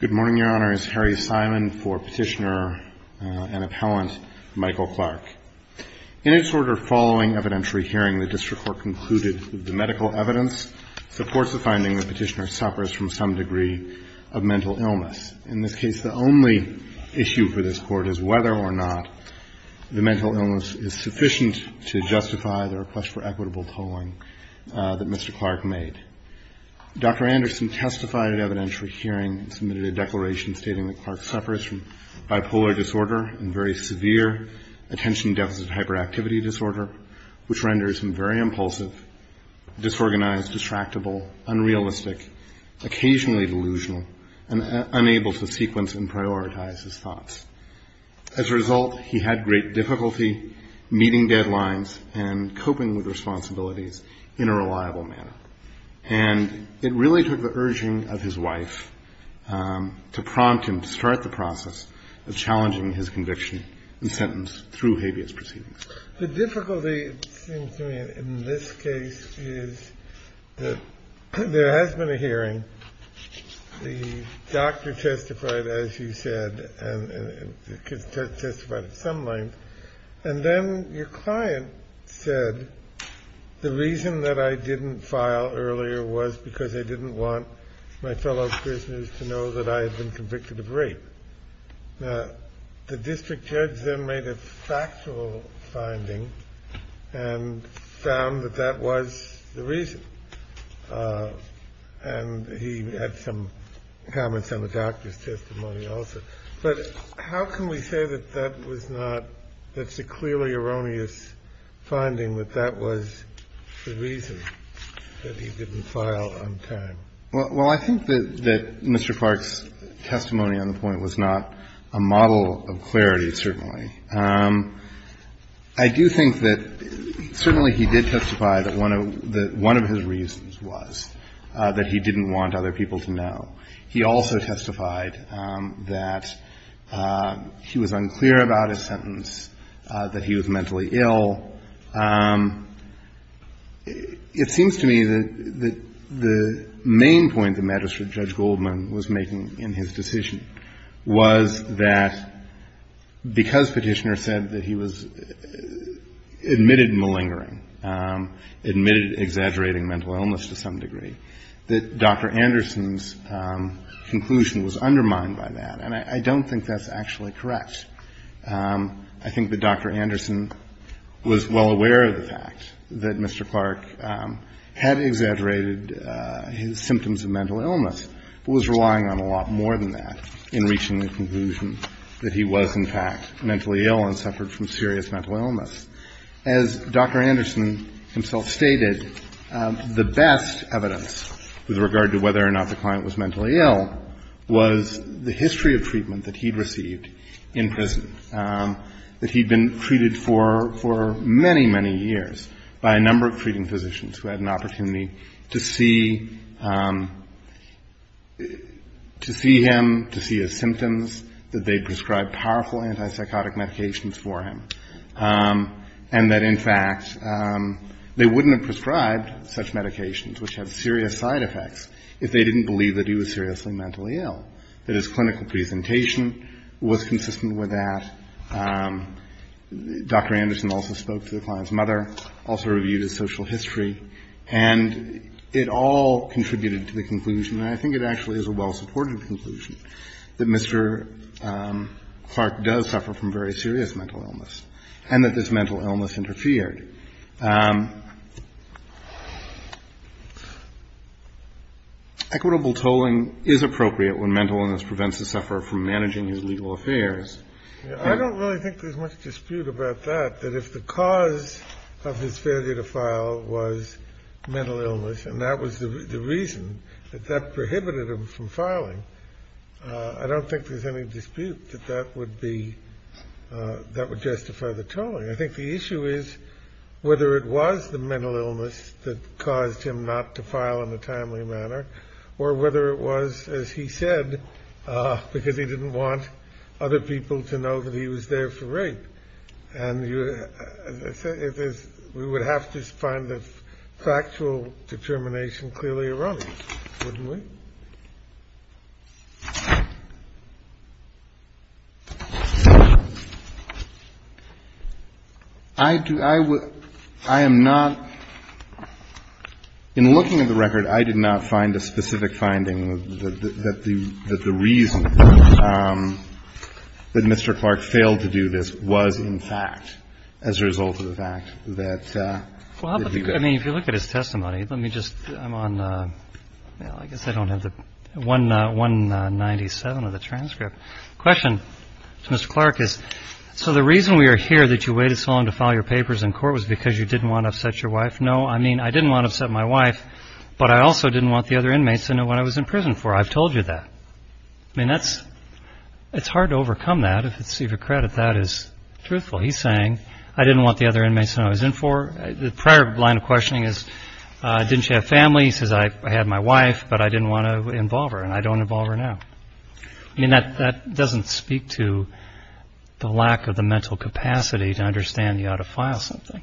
Good morning, Your Honor. It's Harry Simon for Petitioner and Appellant Michael Clark. In its order following evidentiary hearing, the District Court concluded that the medical evidence supports the finding that Petitioner suffers from some degree of mental illness. In this case, the only issue for this Court is whether or not the mental illness is sufficient to justify the request for equitable tolling that Mr. Clark made. Dr. Anderson testified at evidentiary hearing and submitted a declaration stating that Clark suffers from bipolar disorder and very severe attention deficit hyperactivity disorder, which renders him very impulsive, disorganized, distractible, unrealistic, occasionally delusional, and unable to sequence and prioritize his thoughts. As a result, he had great difficulty meeting deadlines and coping with responsibilities in a reliable manner. And it really took the urging of his wife to prompt him to start the process of challenging his conviction and sentence through habeas proceedings. The difficulty in this case is that there has been a hearing. The doctor testified, as you said, and testified at some length. And then your client said the reason that I didn't file earlier was because I didn't want my fellow prisoners to know that I had been convicted of rape. Now, the district judge then made a factual finding and found that that was the reason. And he had some comments on the doctor's testimony also. But how can we say that that was not – that it's a clearly erroneous finding that that was the reason that he didn't file on time? Well, I think that Mr. Clark's testimony on the point was not a model of clarity, certainly. I do think that certainly he did testify that one of his reasons was that he didn't want other people to know. He also testified that he was unclear about his sentence, that he was mentally ill. It seems to me that the main point that Magistrate Judge Goldman was making in his decision was that because Petitioner said that he was admitted malingering, admitted exaggerating mental illness to some degree, that Dr. Anderson's conclusion was undermined by that. And I don't think that's actually correct. I think that Dr. Anderson was well aware of the fact that Mr. Clark had exaggerated his symptoms of mental illness, but was relying on a lot more than that in reaching the conclusion that he was, in fact, mentally ill and suffered from serious mental illness. As Dr. Anderson himself stated, the best evidence with regard to whether or not the client was mentally ill was the history of treatment that he'd received in prison, that he'd been treated for many, many years by a number of treating physicians who had an opportunity to see him, to see his symptoms, that they'd prescribed powerful antipsychotic medications for him, and that, in fact, they wouldn't have prescribed such medications, which had serious side effects, if they didn't believe that he was seriously mentally ill, that his clinical presentation was consistent with that. Dr. Anderson also spoke to the client's mother, also reviewed his social history. And it all contributed to the conclusion, and I think it actually is a well-supported conclusion, that Mr. Clark does suffer from very serious mental illness and that this mental illness interfered. Equitable tolling is appropriate when mental illness prevents the sufferer from managing his legal affairs. I don't really think there's much dispute about that, that if the cause of his failure to file was mental illness and that was the reason that that prohibited him from filing, I don't think there's any dispute that that would justify the tolling. I think the issue is whether it was the mental illness that caused him not to file in a timely manner, or whether it was, as he said, because he didn't want other people to know that he was there for rape. And we would have to find the factual determination clearly erroneous, wouldn't we? I do. I would. I am not. In looking at the record, I did not find a specific finding that the reason that Mr. Clark did not file was in fact as a result of the fact that he did. Well, I mean, if you look at his testimony, let me just, I'm on, I guess I don't have the 197 of the transcript. Question to Mr. Clark is, so the reason we are here that you waited so long to file your papers in court was because you didn't want to upset your wife? No, I mean, I didn't want to upset my wife, but I also didn't want the other inmates to know what I was in prison for. I've told you that. I mean, that's, it's hard to overcome that. If it's to your credit, that is truthful. He's saying, I didn't want the other inmates to know what I was in for. The prior line of questioning is, didn't you have family? He says, I had my wife, but I didn't want to involve her, and I don't involve her now. I mean, that doesn't speak to the lack of the mental capacity to understand you ought to file something.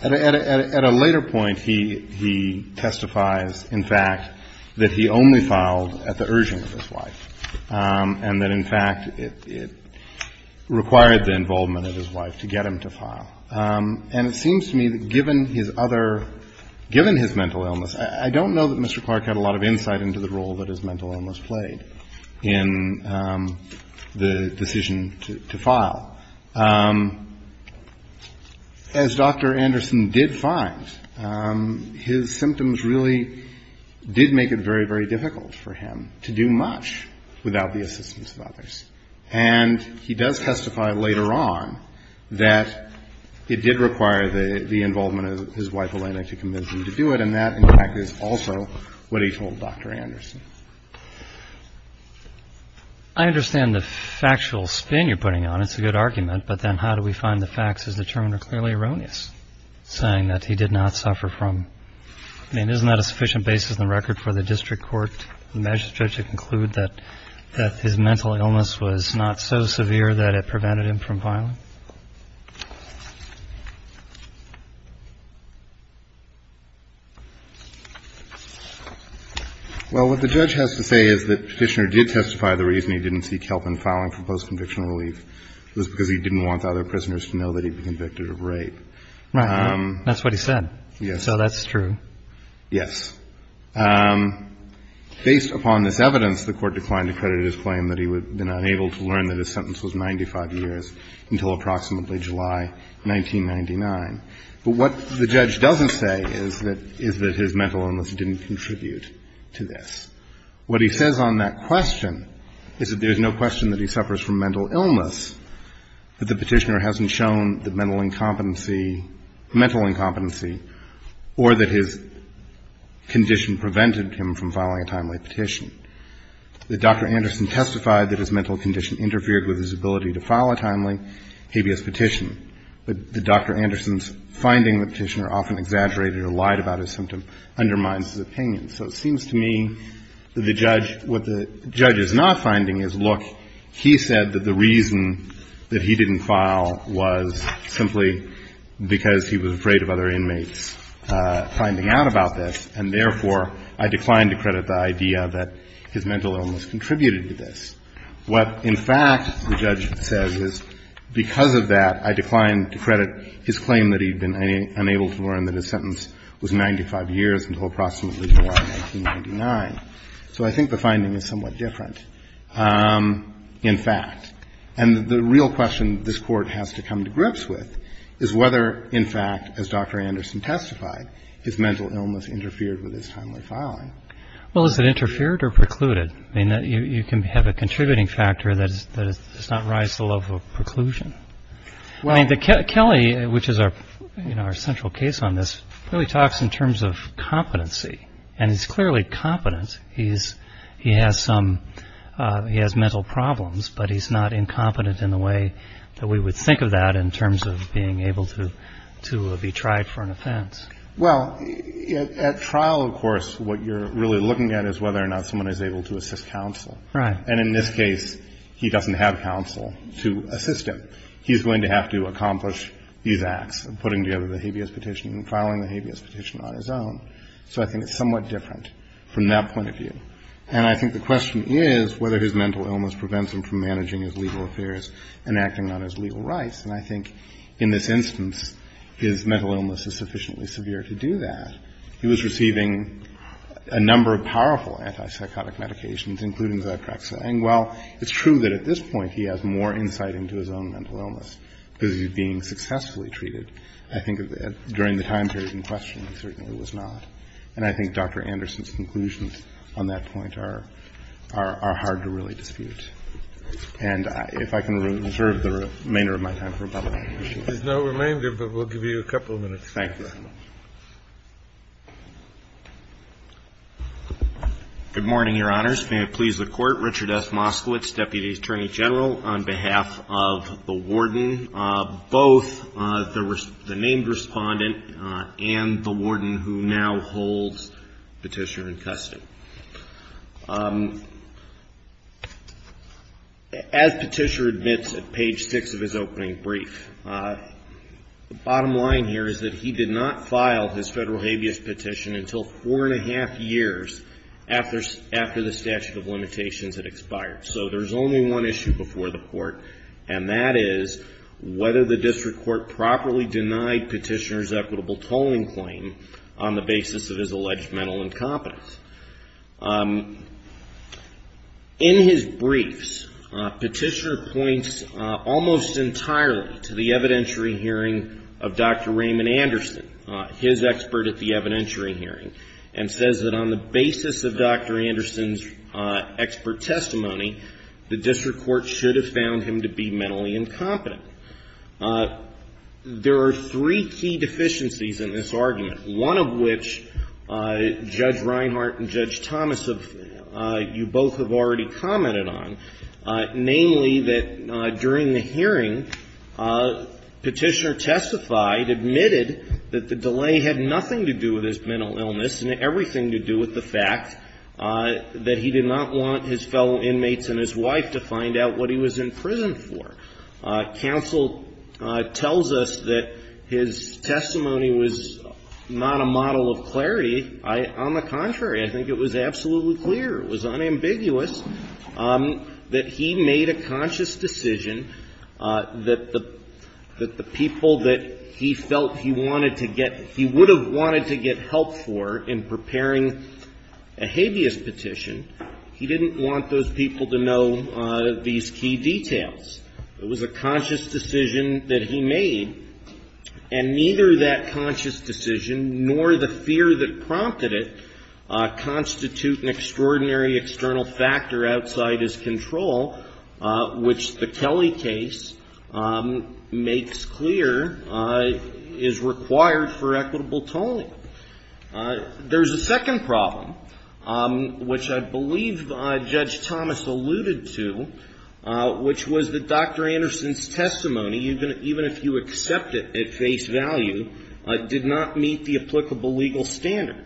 At a later point, he testifies, in fact, that he only filed at the urging of his wife, and that, in fact, it required the involvement of his wife to get him to file. And it seems to me that given his other, given his mental illness, I don't know that Mr. Clark had a lot of insight into the role that his mental illness played in the decision to file. As Dr. Anderson did find, his symptoms really did make it very, very difficult for him to do much without the assistance of others. And he does testify later on that it did require the involvement of his wife, Elena, to convince him to do it, and that, in fact, is also what he told Dr. Anderson. I understand the factual spin you're putting on it. It's a good argument. But then how do we find the facts as determined are clearly erroneous, saying that he did not suffer from. I mean, isn't that a sufficient basis in the record for the district court measure to conclude that his mental illness was not so severe that it prevented him from filing? Well, what the judge has to say is that Petitioner did testify the reason he didn't seek help in filing for post-conviction relief was because he didn't want other prisoners to know that he'd be convicted of rape. Right. That's what he said. Yes. So that's true. Yes. Based upon this evidence, the Court declined to credit his claim that he had been unable to learn that his sentence was 95 years until approximately July 1999. But what the judge doesn't say is that his mental illness didn't contribute to this. What he says on that question is that there's no question that he suffers from mental illness, that the Petitioner hasn't shown the mental incompetency or that his condition prevented him from filing a timely petition, that Dr. Anderson testified that his mental condition interfered with his ability to file a timely habeas petition, but that Dr. Anderson's finding that Petitioner often exaggerated or lied about his symptom undermines his opinion. So it seems to me that the judge, what the judge is not finding is, look, he said that the reason that he didn't file was simply because he was afraid of other inmates finding out about this, and therefore, I decline to credit the idea that his mental illness contributed to this. What, in fact, the judge says is, because of that, I decline to credit his claim that he'd been unable to learn that his sentence was 95 years until approximately July 1999. So I think the finding is somewhat different, in fact. And the real question this Court has to come to grips with is whether, in fact, as Dr. Anderson testified, his mental illness interfered with his timely filing. Well, is it interfered or precluded? I mean, you can have a contributing factor that does not rise to the level of preclusion. I mean, Kelly, which is our central case on this, really talks in terms of competency. And he's clearly competent. He has mental problems, but he's not incompetent in the way that we would think of that in terms of being able to be tried for an offense. Well, at trial, of course, what you're really looking at is whether or not someone is able to assist counsel. And in this case, he doesn't have counsel to assist him. He's going to have to accomplish these acts of putting together the habeas petition and filing the habeas petition on his own. So I think it's somewhat different from that point of view. And I think the question is whether his mental illness prevents him from managing his legal affairs and acting on his legal rights. And I think in this instance, his mental illness is sufficiently severe to do that. He was receiving a number of powerful antipsychotic medications, including Zyprexa. And while it's true that at this point he has more insight into his own mental illness because he's being successfully treated, I think during the time period in question he certainly was not. And I think Dr. Anderson's conclusions on that point are hard to really dispute. And if I can reserve the remainder of my time for a couple of questions. There's no remainder, but we'll give you a couple of minutes. Thank you. Good morning, Your Honors. May it please the Court. Richard F. Moskowitz, Deputy Attorney General, on behalf of the Warden, both the named Respondent and the Warden who now holds Petitioner in custody. As Petitioner admits at page 6 of his opening brief, the bottom line here is that he did not file his federal habeas petition until four and a half years after the statute of limitations had expired. So there's only one issue before the Court, and that is whether the district court properly denied Petitioner's equitable tolling claim on the basis of his alleged mental incompetence. In his briefs, Petitioner points almost entirely to the evidentiary hearing of Dr. Raymond Anderson, his expert at the evidentiary hearing, and says that on the basis of Dr. Anderson's expert testimony, the district court should have found him to be mentally incompetent. There are three key deficiencies in this argument, one of which Judge Reinhart and Judge Thomas, you both have already commented on, namely that during the hearing, Petitioner testified, admitted that the delay had nothing to do with his mental illness and everything to do with the fact that he did not want his fellow inmates and his wife to find out what he was in prison for. Counsel tells us that his testimony was not a model of clarity. On the contrary, I think it was absolutely clear, it was unambiguous, that he made a conscious decision that the people that he felt he wanted to get, he would have wanted to get help for in preparing a habeas petition, he didn't want those people to know these key details. It was a conscious decision that he made, and neither that conscious decision nor the fear that prompted it constitute an extraordinary external factor outside his control, which the Kelly case makes clear is required for equitable tolling. There's a second problem, which I believe Judge Thomas alluded to, which was that Dr. Anderson's testimony, even if you accept it at face value, did not meet the applicable legal standard.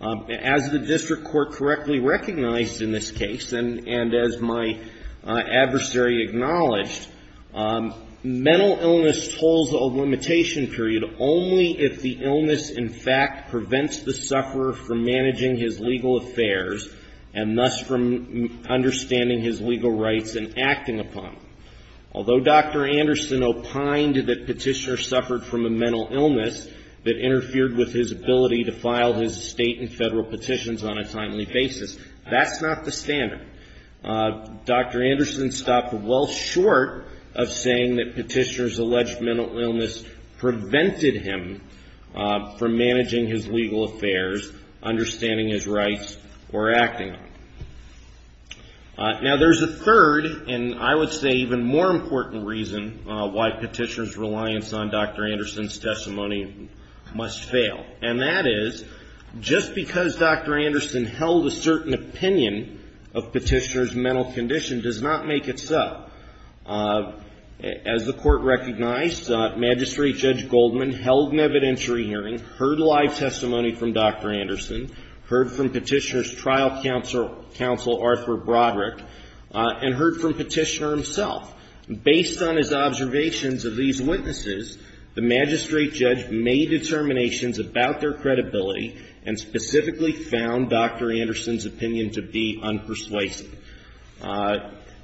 As the district court correctly recognized in this case, and as my adversary acknowledged, mental illness tolls a limitation period only if the illness, in fact, prevents the sufferer from managing his legal affairs and thus from understanding his legal rights and acting upon them. Although Dr. Anderson opined that Petitioner suffered from a mental illness that interfered with his ability to file his state and federal petitions on a timely basis, that's not the standard. Dr. Anderson stopped well short of saying that Petitioner's alleged mental illness prevented him from managing his legal affairs, understanding his rights, or acting on them. Now, there's a third and, I would say, even more important reason why Petitioner's reliance on Dr. Anderson's testimony must fail, and that is just because Dr. Anderson held a certain opinion of Petitioner's mental condition does not make it so. As the court recognized, Magistrate Judge Goldman held an evidentiary hearing, heard live testimony from Dr. Anderson, heard from Petitioner's trial counsel, Arthur Broderick, and heard from Petitioner himself. Based on his observations of these witnesses, the Magistrate Judge made determinations about their credibility and specifically found Dr. Anderson's opinion to be unpersuasive.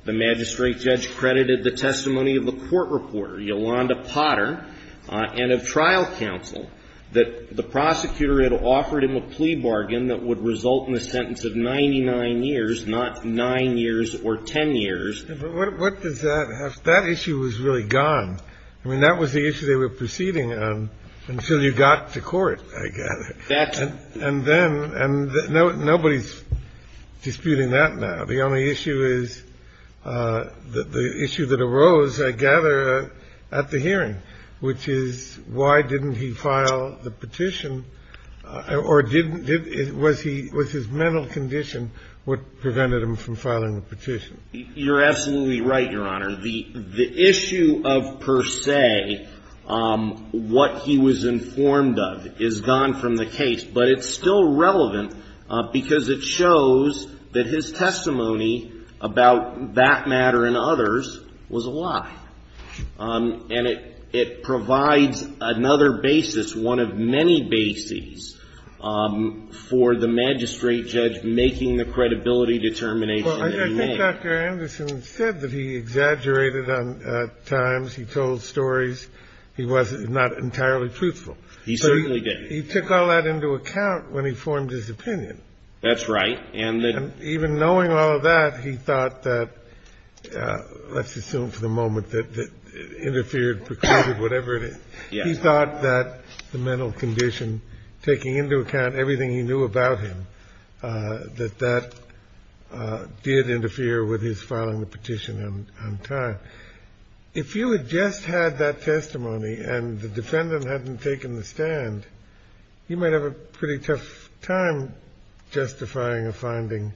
The Magistrate Judge credited the testimony of a court reporter, Yolanda Potter, and of trial counsel, that the prosecutor had offered him a plea bargain that would result in a sentence of 99 years, not 9 years or 10 years. But what does that have to do with it? That issue was really gone. I mean, that was the issue they were proceeding on until you got to court, I gather. And then no one's disputing that now. The only issue is the issue that arose, I gather, at the hearing, which is why didn't he find a way to file the petition, or was his mental condition what prevented him from filing the petition? You're absolutely right, Your Honor. The issue of per se what he was informed of is gone from the case. But it's still relevant because it shows that his testimony about that matter and others was a lie. And it provides another basis, one of many bases, for the Magistrate Judge making the credibility determination that he made. Well, I think Dr. Anderson said that he exaggerated at times. He told stories. He was not entirely truthful. He certainly didn't. He took all that into account when he formed his opinion. That's right. And even knowing all of that, he thought that, let's assume for the moment that it interfered, precluded, whatever it is. Yes. He thought that the mental condition, taking into account everything he knew about him, that that did interfere with his filing the petition on time. If you had just had that testimony and the defendant hadn't taken the stand, you might have a pretty tough time justifying a finding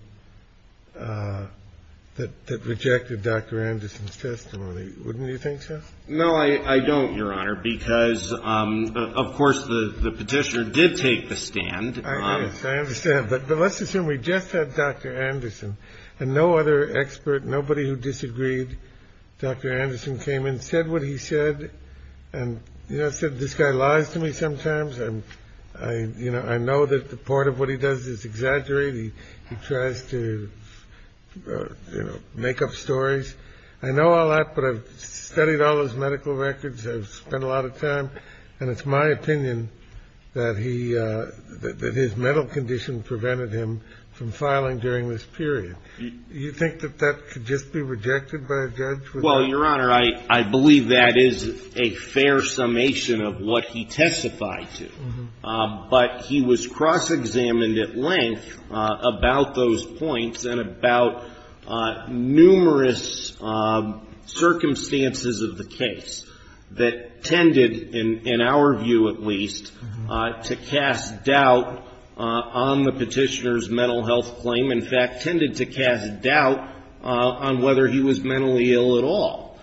that rejected Dr. Anderson's testimony. Wouldn't you think so? No, I don't, Your Honor, because, of course, the petitioner did take the stand. I understand. But let's assume we just had Dr. Anderson and no other expert, nobody who disagreed, Dr. Anderson came and said what he said. And, you know, I said this guy lies to me sometimes. You know, I know that part of what he does is exaggerate. He tries to, you know, make up stories. I know all that, but I've studied all his medical records. I've spent a lot of time. And it's my opinion that he – that his mental condition prevented him from filing during this period. Do you think that that could just be rejected by a judge? Well, Your Honor, I believe that is a fair summation of what he testified to. But he was cross-examined at length about those points and about numerous circumstances of the case that tended, in our view at least, to cast doubt on the petitioner's mental health claim, in fact tended to cast doubt on whether he was mentally ill at all.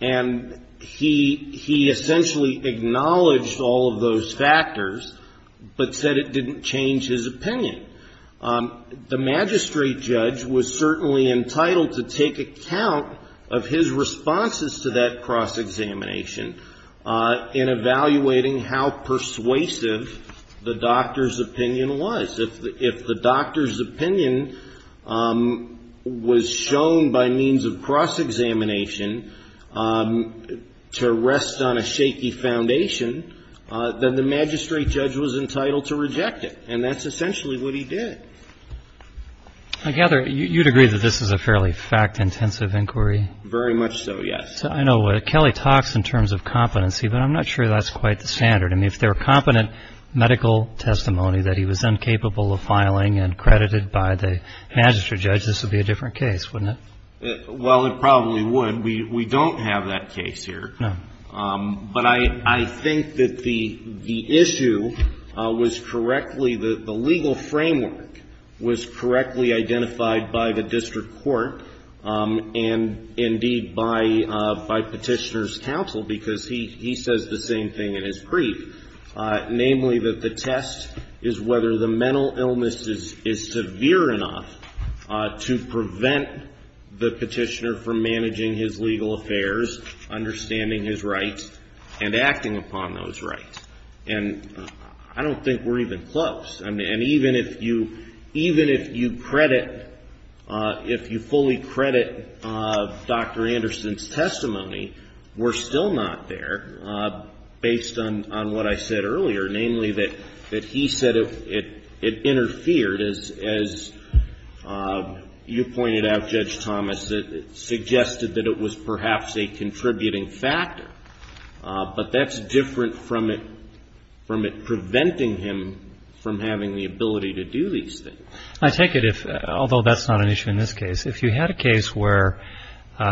And he essentially acknowledged all of those factors, but said it didn't change his opinion. The magistrate judge was certainly entitled to take account of his responses to that cross-examination in evaluating how persuasive the doctor's opinion was. If the doctor's opinion was shown by means of cross-examination to rest on a shaky foundation, then the magistrate judge was entitled to reject it. And that's essentially what he did. I gather you'd agree that this is a fairly fact-intensive inquiry. Very much so, yes. I know Kelly talks in terms of competency, but I'm not sure that's quite the standard. I mean, if there were competent medical testimony that he was incapable of filing and credited by the magistrate judge, this would be a different case, wouldn't it? Well, it probably would. We don't have that case here. No. But I think that the issue was correctly the legal framework was correctly identified by the district court and, indeed, by Petitioner's counsel, because he says the same thing in his brief, namely that the test is whether the mental illness is severe enough to prevent the Petitioner from managing his legal affairs, understanding his rights, and acting upon those rights. And I don't think we're even close. And even if you credit, if you fully credit Dr. Anderson's testimony, we're still not there, based on what I said earlier, namely that he said it interfered, as you pointed out, Judge Thomas, that it suggested that it was perhaps a contributing factor. But that's different from it preventing him from having the ability to do these things. I take it, although that's not an issue in this case, if you had a case where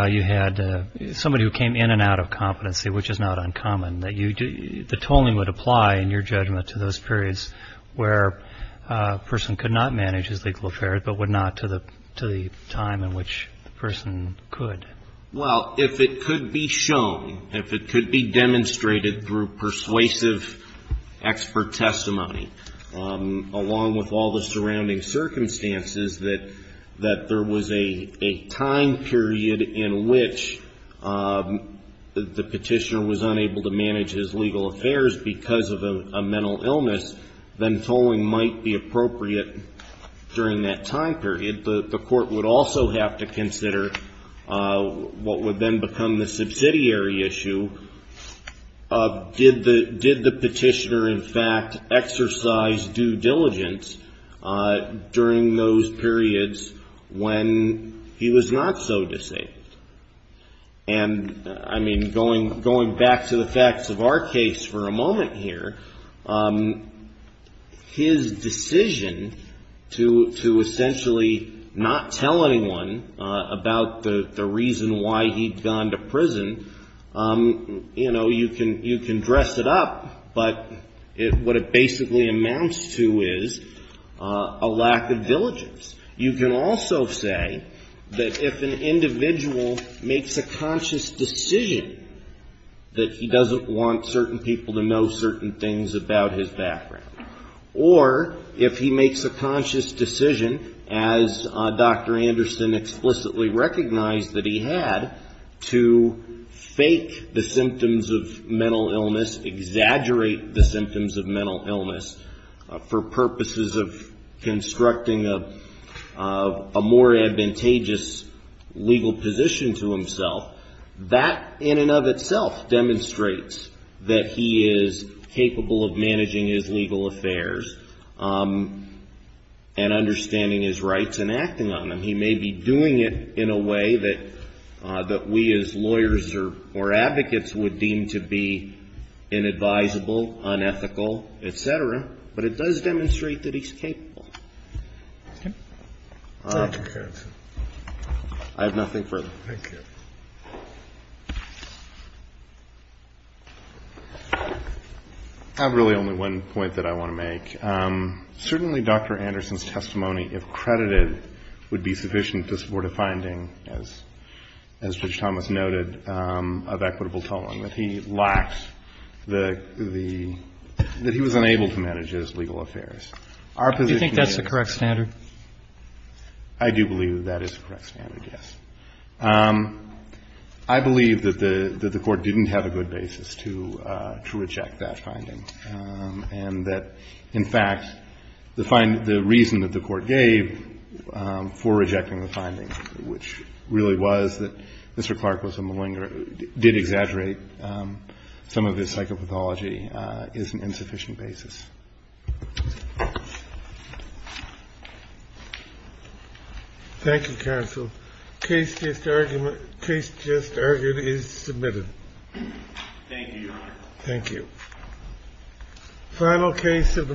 you had somebody who came in and out of competency, which is not uncommon, that the tolling would apply, in your judgment, to those periods where a person could not manage his legal affairs but would not to the time in which the person could. Well, if it could be shown, if it could be demonstrated through persuasive expert testimony, along with all the surrounding circumstances, that there was a time period in which the Petitioner was unable to manage his legal affairs because of a mental illness, then tolling might be appropriate during that time period. The Court would also have to consider what would then become the subsidiary issue. Did the Petitioner, in fact, exercise due diligence during those periods when he was not so disabled? And, I mean, going back to the facts of our case for a moment here, his decision to essentially not tell anyone about the reason why he'd gone to prison, you know, you can dress it up, but what it basically amounts to is a lack of diligence. You can also say that if an individual makes a conscious decision that he doesn't want certain people to know certain things about his background, or if he makes a conscious decision, as Dr. Anderson explicitly recognized that he had, to fake the symptoms of mental illness, exaggerate the symptoms of mental illness, for purposes of constructing a more advantageous legal position to himself, that in and of itself demonstrates that he is capable of managing his legal affairs and understanding his rights and acting on them. He may be doing it in a way that we as lawyers or advocates would deem to be inadvisable, unethical, et cetera, but it does demonstrate that he's capable. Thank you. I have nothing further. Thank you. I have really only one point that I want to make. Certainly Dr. Anderson's testimony, if credited, would be sufficient to support a finding, as Judge Thomas noted, of equitable tolling, that he lacked the – that he was unable to manage his legal affairs. Do you think that's the correct standard? I do believe that that is the correct standard, yes. I believe that the Court didn't have a good basis to reject that finding, and that, in fact, the reason that the Court gave for rejecting the finding, which really was that Mr. Clark was a malinger, did exaggerate some of his psychopathology, is an insufficient basis. Thank you, counsel. Case just argued is submitted. Thank you, Your Honor. Thank you. Final case of the morning is